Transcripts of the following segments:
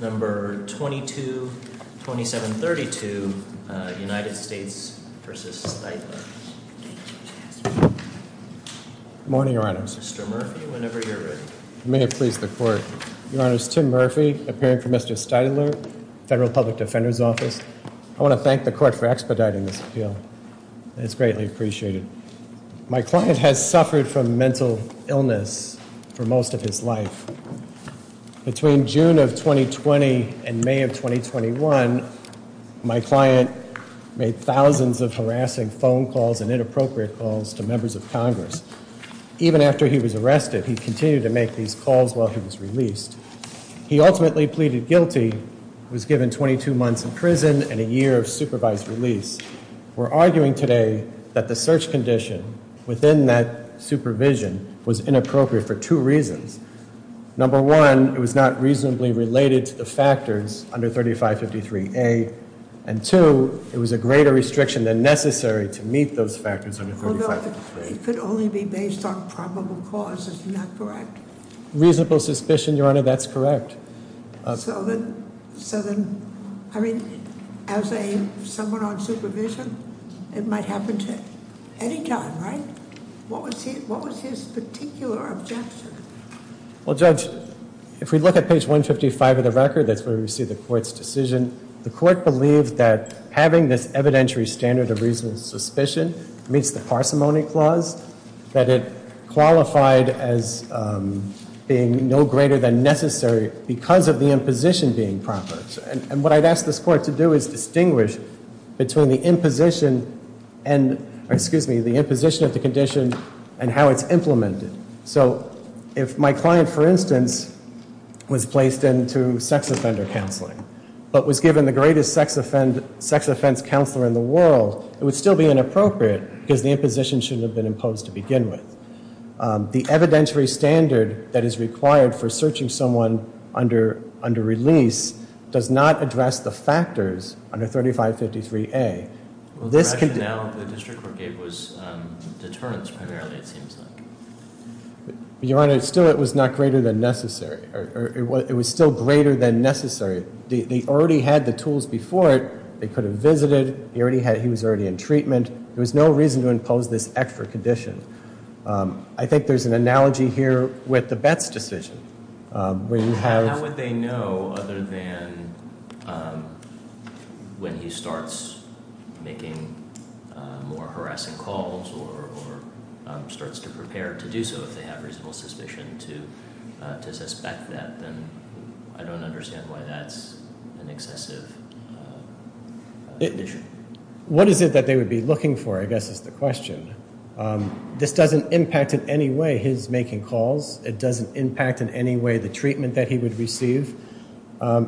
No. 222732, United States v. Stiteler Good morning, Your Honor. Mr. Murphy, whenever you're ready. May it please the Court. Your Honor, it's Tim Murphy, appearing for Mr. Stiteler, Federal Public Defender's Office. I want to thank the Court for expediting this appeal. It's greatly appreciated. My client has suffered from mental illness for most of his life. Between June of 2020 and May of 2021, my client made thousands of harassing phone calls and inappropriate calls to members of Congress. Even after he was arrested, he continued to make these calls while he was released. He ultimately pleaded guilty, was given 22 months in prison and a year of supervised release. We're arguing today that the search condition within that supervision was inappropriate for two reasons. Number one, it was not reasonably related to the factors under 3553A. And two, it was a greater restriction than necessary to meet those factors under 3553A. It could only be based on probable cause, isn't that correct? Reasonable suspicion, Your Honor, that's correct. So then, I mean, as someone on supervision, it might happen to any time, right? What was his particular objection? Well, Judge, if we look at page 155 of the record, that's where we see the Court's decision. The Court believed that having this evidentiary standard of reasonable suspicion meets the parsimony clause, that it qualified as being no greater than necessary because of the imposition being proper. And what I'd ask this Court to do is distinguish between the imposition and, excuse me, the imposition of the condition and how it's implemented. So if my client, for instance, was placed into sex offender counseling but was given the greatest sex offense counselor in the world, it would still be inappropriate because the imposition shouldn't have been imposed to begin with. The evidentiary standard that is required for searching someone under release does not address the factors under 3553A. The rationale the District Court gave was deterrence, primarily, it seems like. Your Honor, still it was not greater than necessary. It was still greater than necessary. They already had the tools before it. They could have visited. He was already in treatment. There was no reason to impose this extra condition. I think there's an analogy here with the Betts decision. How would they know other than when he starts making more harassing calls or starts to prepare to do so if they have reasonable suspicion to suspect that? Then I don't understand why that's an excessive condition. What is it that they would be looking for, I guess, is the question. This doesn't impact in any way his making calls. It doesn't impact in any way the treatment that he would receive.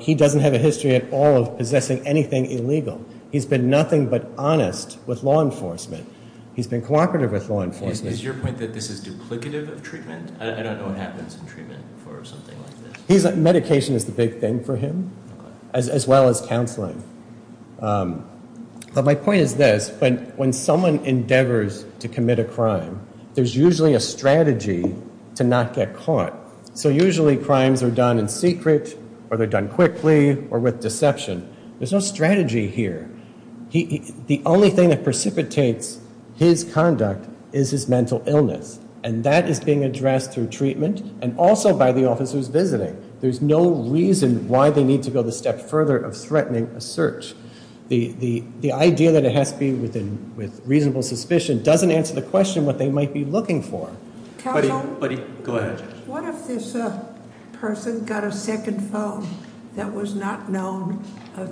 He doesn't have a history at all of possessing anything illegal. He's been nothing but honest with law enforcement. He's been cooperative with law enforcement. Is your point that this is duplicative of treatment? I don't know what happens in treatment for something like this. Medication is the big thing for him as well as counseling. My point is this. When someone endeavors to commit a crime, there's usually a strategy to not get caught. Usually crimes are done in secret or they're done quickly or with deception. There's no strategy here. The only thing that precipitates his conduct is his mental illness, and that is being addressed through treatment and also by the officers visiting. There's no reason why they need to go the step further of threatening a search. The idea that it has to be with reasonable suspicion doesn't answer the question what they might be looking for. Counsel? Buddy, go ahead. What if this person got a second phone that was not known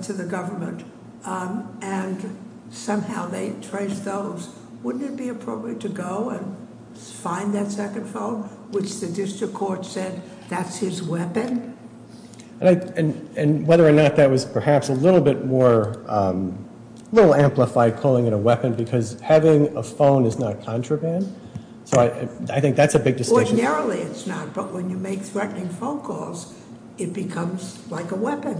to the government and somehow they traced those? Wouldn't it be appropriate to go and find that second phone, which the district court said that's his weapon? And whether or not that was perhaps a little bit more, a little amplified calling it a weapon because having a phone is not contraband. So I think that's a big distinction. Ordinarily it's not, but when you make threatening phone calls, it becomes like a weapon.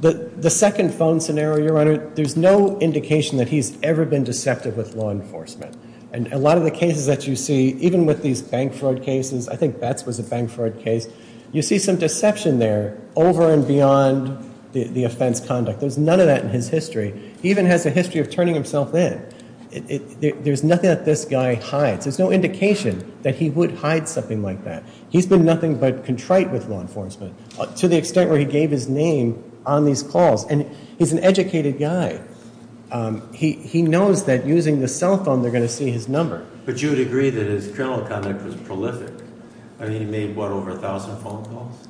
The second phone scenario, Your Honor, there's no indication that he's ever been deceptive with law enforcement. And a lot of the cases that you see, even with these bank fraud cases, I think Betz was a bank fraud case, you see some deception there over and beyond the offense conduct. There's none of that in his history. He even has a history of turning himself in. There's nothing that this guy hides. There's no indication that he would hide something like that. He's been nothing but contrite with law enforcement. To the extent where he gave his name on these calls. And he's an educated guy. He knows that using the cell phone, they're going to see his number. But you would agree that his criminal conduct was prolific. I mean, he made, what, over 1,000 phone calls?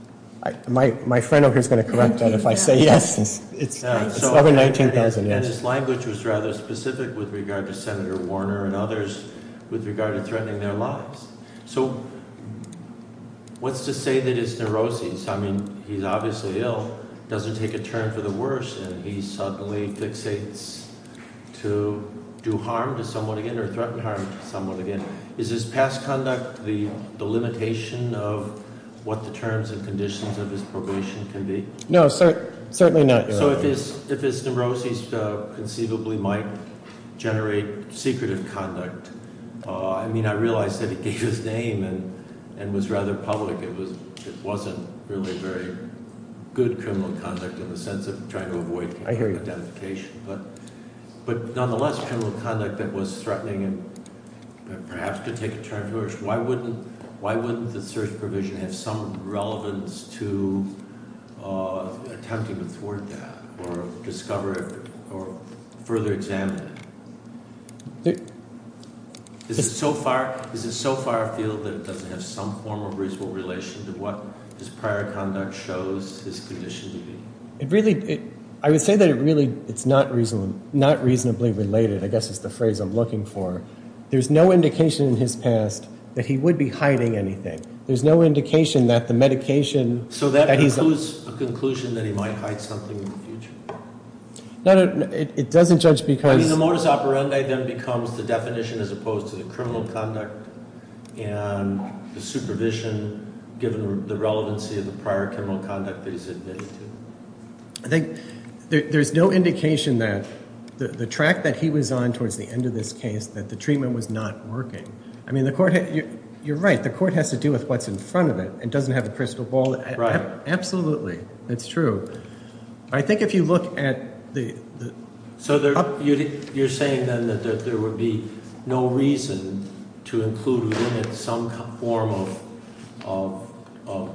My friend over here is going to correct that if I say yes. It's over 19,000, yes. And his language was rather specific with regard to Senator Warner and others with regard to threatening their lives. So what's to say that his neuroses, I mean, he's obviously ill. Doesn't take a turn for the worse and he suddenly fixates to do harm to someone again or threaten harm to someone again. Is his past conduct the limitation of what the terms and conditions of his probation can be? No, certainly not. So if his neuroses conceivably might generate secretive conduct, I mean, I realize that he gave his name and was rather public. It wasn't really very good criminal conduct in the sense of trying to avoid identification. I hear you. But nonetheless, criminal conduct that was threatening and perhaps could take a turn for the worse, why wouldn't the search provision have some relevance to attempting to thwart that or discover it or further examine it? Is it so far afield that it doesn't have some form of reasonable relation to what his prior conduct shows his condition to be? I would say that it's not reasonably related, I guess is the phrase I'm looking for. There's no indication in his past that he would be hiding anything. There's no indication that the medication that he's- So that concludes a conclusion that he might hide something in the future? No, it doesn't judge because- I mean, the modus operandi then becomes the definition as opposed to the criminal conduct and the supervision given the relevancy of the prior criminal conduct that he's admitted to. I think there's no indication that the track that he was on towards the end of this case, that the treatment was not working. I mean, you're right, the court has to do with what's in front of it. It doesn't have a crystal ball. Right. Absolutely. That's true. I think if you look at the- So you're saying then that there would be no reason to include within it some form of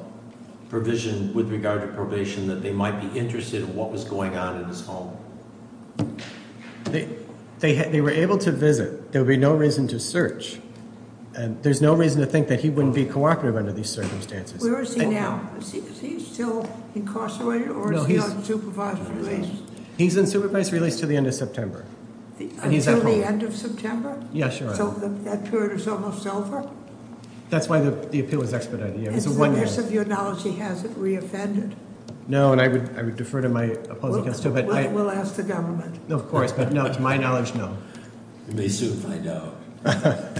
provision with regard to probation that they might be interested in what was going on in his home? They were able to visit. There would be no reason to search. There's no reason to think that he wouldn't be cooperative under these circumstances. Where is he now? Is he still incarcerated or is he on supervised release? He's on supervised release until the end of September. Until the end of September? Yeah, sure. So that period is almost over? That's why the appeal was expedited, yeah. Is there some of your knowledge he hasn't reoffended? No, and I would defer to my opposing counsel. We'll ask the government. Of course, but no, to my knowledge, no. You may soon find out.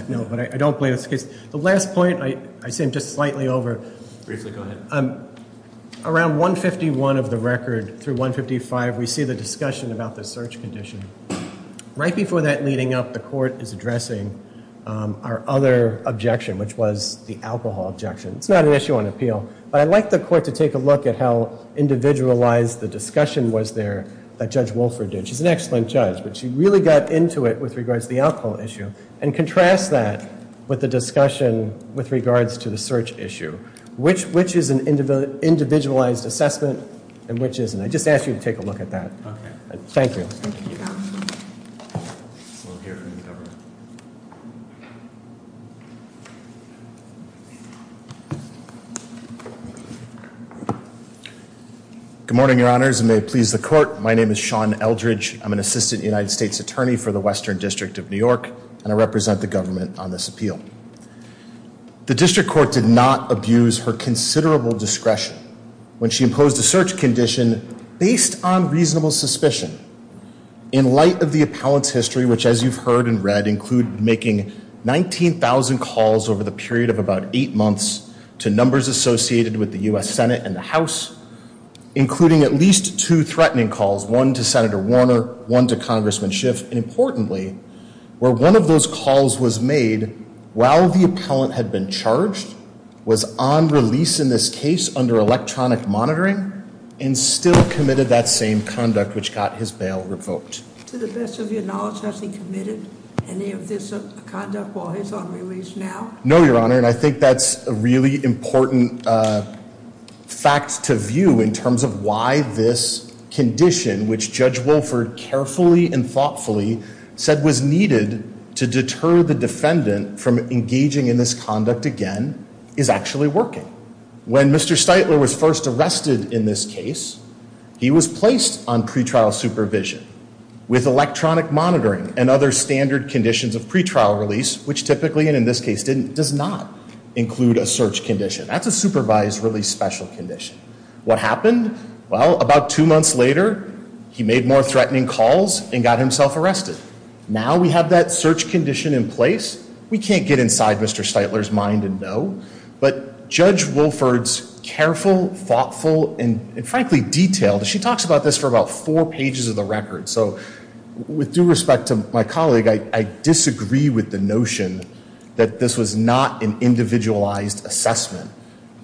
No, but I don't believe it's the case. The last point, I seem just slightly over. Briefly, go ahead. Around 151 of the record through 155, we see the discussion about the search condition. Right before that leading up, the court is addressing our other objection, which was the alcohol objection. It's not an issue on appeal, but I'd like the court to take a look at how individualized the discussion was there that Judge Wolford did. She's an excellent judge, but she really got into it with regards to the alcohol issue and contrast that with the discussion with regards to the search issue. Which is an individualized assessment and which isn't? I just ask you to take a look at that. Thank you. Good morning, Your Honors, and may it please the court. My name is Sean Eldridge. I'm an assistant United States attorney for the Western District of New York, and I represent the government on this appeal. The district court did not abuse her considerable discretion when she imposed a search condition based on reasonable suspicion. In light of the appellant's history, which, as you've heard and read, include making 19,000 calls over the period of about eight months to numbers associated with the U.S. Senate and the House, including at least two threatening calls, one to Senator Warner, one to Congressman Schiff, and importantly, where one of those calls was made while the appellant had been charged, was on release in this case under electronic monitoring, and still committed that same conduct, which got his bail revoked. To the best of your knowledge, has he committed any of this conduct while he's on release now? No, Your Honor, and I think that's a really important fact to view in terms of why this condition, which Judge Wolford carefully and thoughtfully said was needed to deter the defendant from engaging in this conduct again, is actually working. When Mr. Steitler was first arrested in this case, he was placed on pretrial supervision with electronic monitoring and other standard conditions of pretrial release, which typically, and in this case didn't, does not include a search condition. That's a supervised release special condition. What happened? Well, about two months later, he made more threatening calls and got himself arrested. Now we have that search condition in place, we can't get inside Mr. Steitler's mind and know, but Judge Wolford's careful, thoughtful, and frankly detailed, she talks about this for about four pages of the record, so with due respect to my colleague, I disagree with the notion that this was not an individualized assessment.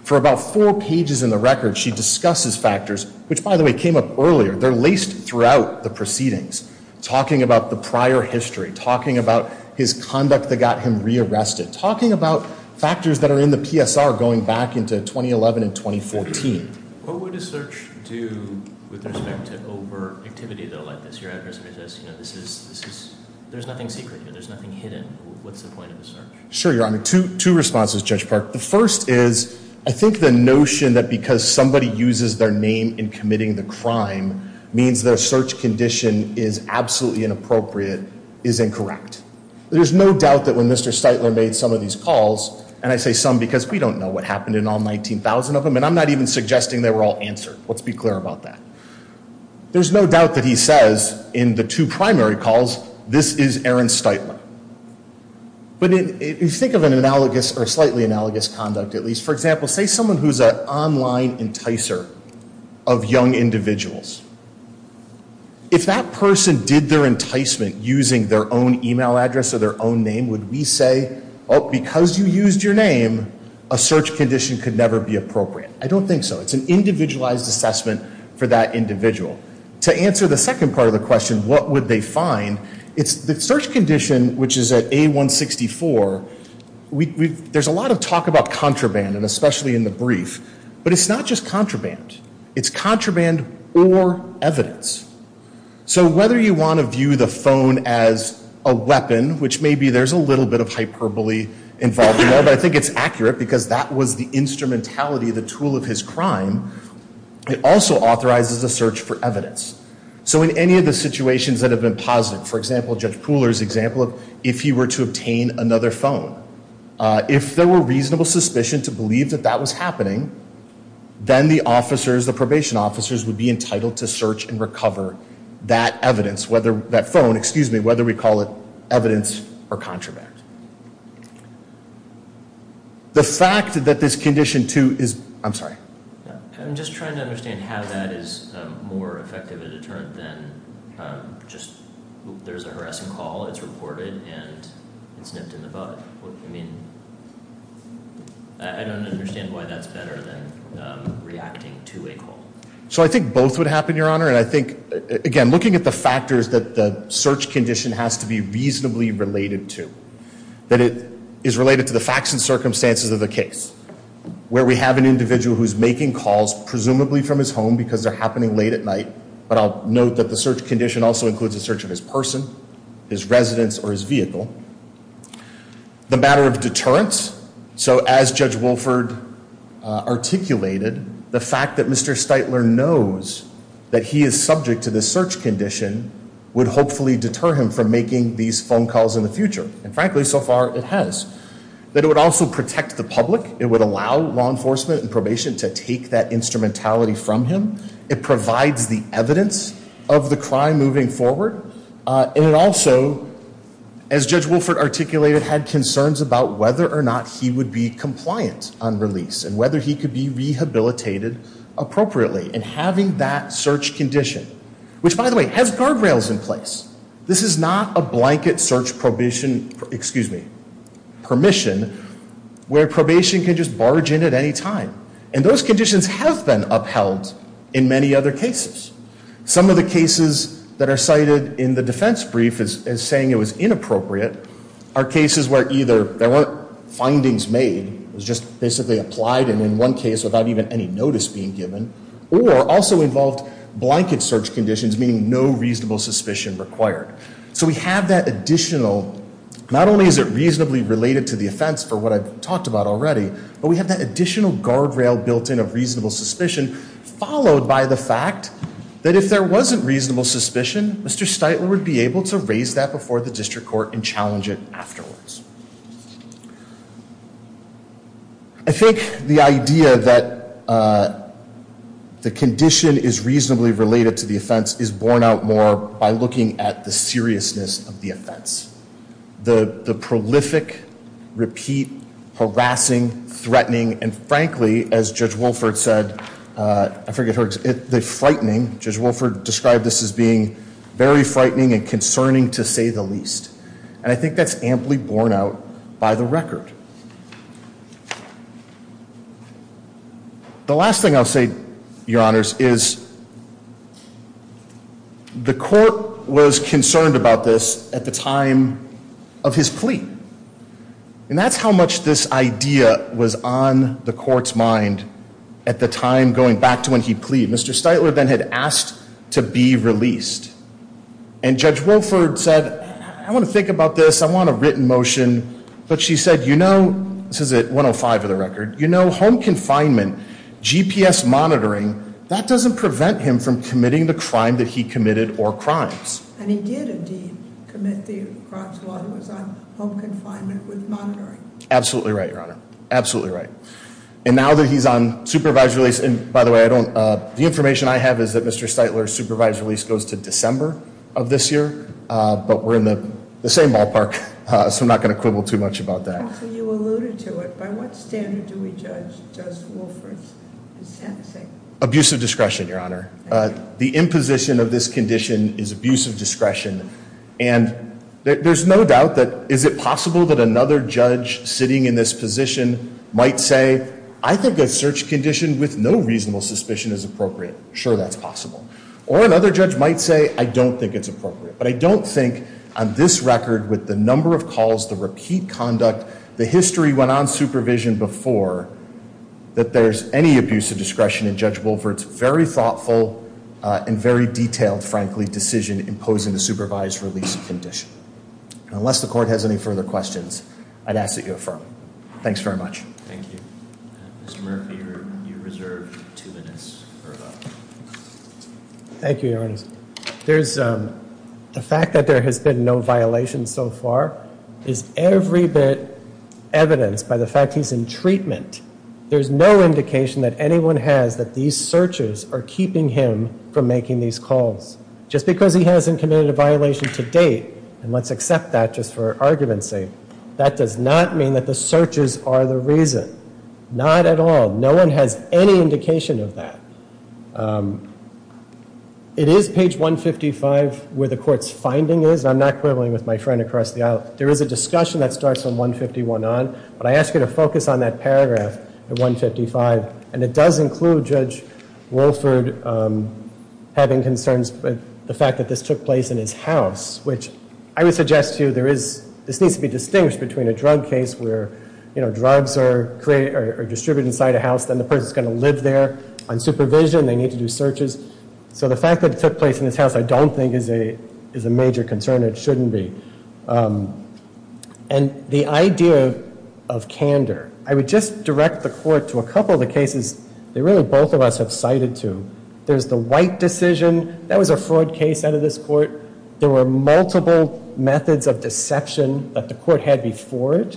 For about four pages in the record, she discusses factors, which by the way came up earlier, they're laced throughout the proceedings, talking about the prior history, talking about his conduct that got him rearrested, talking about factors that are in the PSR going back into 2011 and 2014. What would a search do with respect to over activity though like this? Your address page says, you know, this is, there's nothing secret here, there's nothing hidden. What's the point of the search? Sure, Your Honor. Two responses, Judge Park. The first is I think the notion that because somebody uses their name in committing the crime means their search condition is absolutely inappropriate is incorrect. There's no doubt that when Mr. Steitler made some of these calls, and I say some because we don't know what happened in all 19,000 of them and I'm not even suggesting they were all answered, let's be clear about that. There's no doubt that he says in the two primary calls, this is Aaron Steitler. But if you think of an analogous or slightly analogous conduct at least, for example, say someone who's an online enticer of young individuals. If that person did their enticement using their own email address or their own name, would we say, oh, because you used your name, a search condition could never be appropriate? I don't think so. It's an individualized assessment for that individual. To answer the second part of the question, what would they find, it's the search condition which is at A164, there's a lot of talk about contraband, and especially in the brief, but it's not just contraband. It's contraband or evidence. So whether you want to view the phone as a weapon, which maybe there's a little bit of hyperbole involved in there, but I think it's accurate because that was the instrumentality, the tool of his crime. It also authorizes a search for evidence. So in any of the situations that have been posited, for example, Judge Pooler's example of if he were to obtain another phone, if there were reasonable suspicion to believe that that was happening, then the officers, the probation officers, would be entitled to search and recover that evidence, whether that phone, excuse me, whether we call it evidence or contraband. The fact that this condition too is, I'm sorry. I'm just trying to understand how that is more effective a deterrent than just there's a harassing call, it's reported, and it's nipped in the bud. I mean, I don't understand why that's better than reacting to a call. So I think both would happen, Your Honor, and I think, again, looking at the factors that the search condition has to be reasonably related to, that it is related to the facts and circumstances of the case, where we have an individual who's making calls presumably from his home because they're happening late at night, but I'll note that the search condition also includes a search of his person, his residence, or his vehicle. The matter of deterrence, so as Judge Wolford articulated, the fact that Mr. Steitler knows that he is subject to this search condition would hopefully deter him from making these phone calls in the future, and frankly, so far, it has. That it would also protect the public. It would allow law enforcement and probation to take that instrumentality from him. It provides the evidence of the crime moving forward. And it also, as Judge Wolford articulated, had concerns about whether or not he would be compliant on release and whether he could be rehabilitated appropriately and having that search condition, which, by the way, has guardrails in place. This is not a blanket search probation, excuse me, permission, where probation can just barge in at any time, and those conditions have been upheld in many other cases. Some of the cases that are cited in the defense brief as saying it was inappropriate are cases where either there weren't findings made, it was just basically applied and in one case without even any notice being given, or also involved blanket search conditions, meaning no reasonable suspicion required. So we have that additional, not only is it reasonably related to the offense, for what I've talked about already, but we have that additional guardrail built in of reasonable suspicion followed by the fact that if there wasn't reasonable suspicion, Mr. Steitler would be able to raise that before the district court and challenge it afterwards. I think the idea that the condition is reasonably related to the offense is borne out more by looking at the seriousness of the offense. And frankly, as Judge Wolford said, I forget her, the frightening, Judge Wolford described this as being very frightening and concerning to say the least. And I think that's amply borne out by the record. The last thing I'll say, Your Honors, is the court was concerned about this at the time of his plea. And that's how much this idea was on the court's mind at the time going back to when he plead. Mr. Steitler then had asked to be released. And Judge Wolford said, I want to think about this, I want a written motion. But she said, you know, this is at 105 of the record, you know, home confinement, GPS monitoring, that doesn't prevent him from committing the crime that he committed or crimes. And he did indeed commit the crimes while he was on home confinement with monitoring. Absolutely right, Your Honor. Absolutely right. And now that he's on supervised release, and by the way, the information I have is that Mr. Steitler's supervised release goes to December of this year. But we're in the same ballpark, so I'm not going to quibble too much about that. So you alluded to it. By what standard do we judge Judge Wolford's sentencing? Abusive discretion, Your Honor. The imposition of this condition is abusive discretion. And there's no doubt that is it possible that another judge sitting in this position might say, I think a search condition with no reasonable suspicion is appropriate. Sure, that's possible. Or another judge might say, I don't think it's appropriate. But I don't think on this record with the number of calls, the repeat conduct, the history went on supervision before that there's any abusive discretion in Judge Wolford's very thoughtful and very detailed, frankly, decision imposing the supervised release condition. Unless the court has any further questions, I'd ask that you affirm. Thanks very much. Thank you. Mr. Murphy, you're reserved two minutes for a vote. Thank you, Your Honor. The fact that there has been no violations so far is every bit evidenced by the fact he's in treatment. There's no indication that anyone has that these searches are keeping him from making these calls. Just because he hasn't committed a violation to date, and let's accept that just for argument's sake, that does not mean that the searches are the reason. Not at all. No one has any indication of that. It is page 155 where the court's finding is. I'm not quibbling with my friend across the aisle. There is a discussion that starts from 151 on. But I ask you to focus on that paragraph at 155. And it does include Judge Wolford having concerns with the fact that this took place in his house, which I would suggest to you this needs to be distinguished between a drug case where, you know, drugs are distributed inside a house, then the person's going to live there on supervision. They need to do searches. So the fact that it took place in his house I don't think is a major concern. It shouldn't be. And the idea of candor. I would just direct the court to a couple of the cases that really both of us have cited to. There's the White decision. That was a fraud case out of this court. There were multiple methods of deception that the court had before it.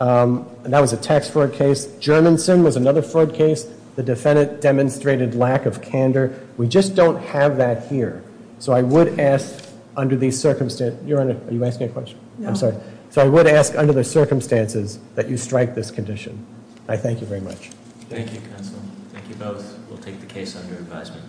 And that was a tax fraud case. Germanson was another fraud case. The defendant demonstrated lack of candor. We just don't have that here. So I would ask under these circumstances. Your Honor, are you asking a question? I'm sorry. So I would ask under the circumstances that you strike this condition. I thank you very much. Thank you, counsel. Thank you both. We'll take the case under advisement.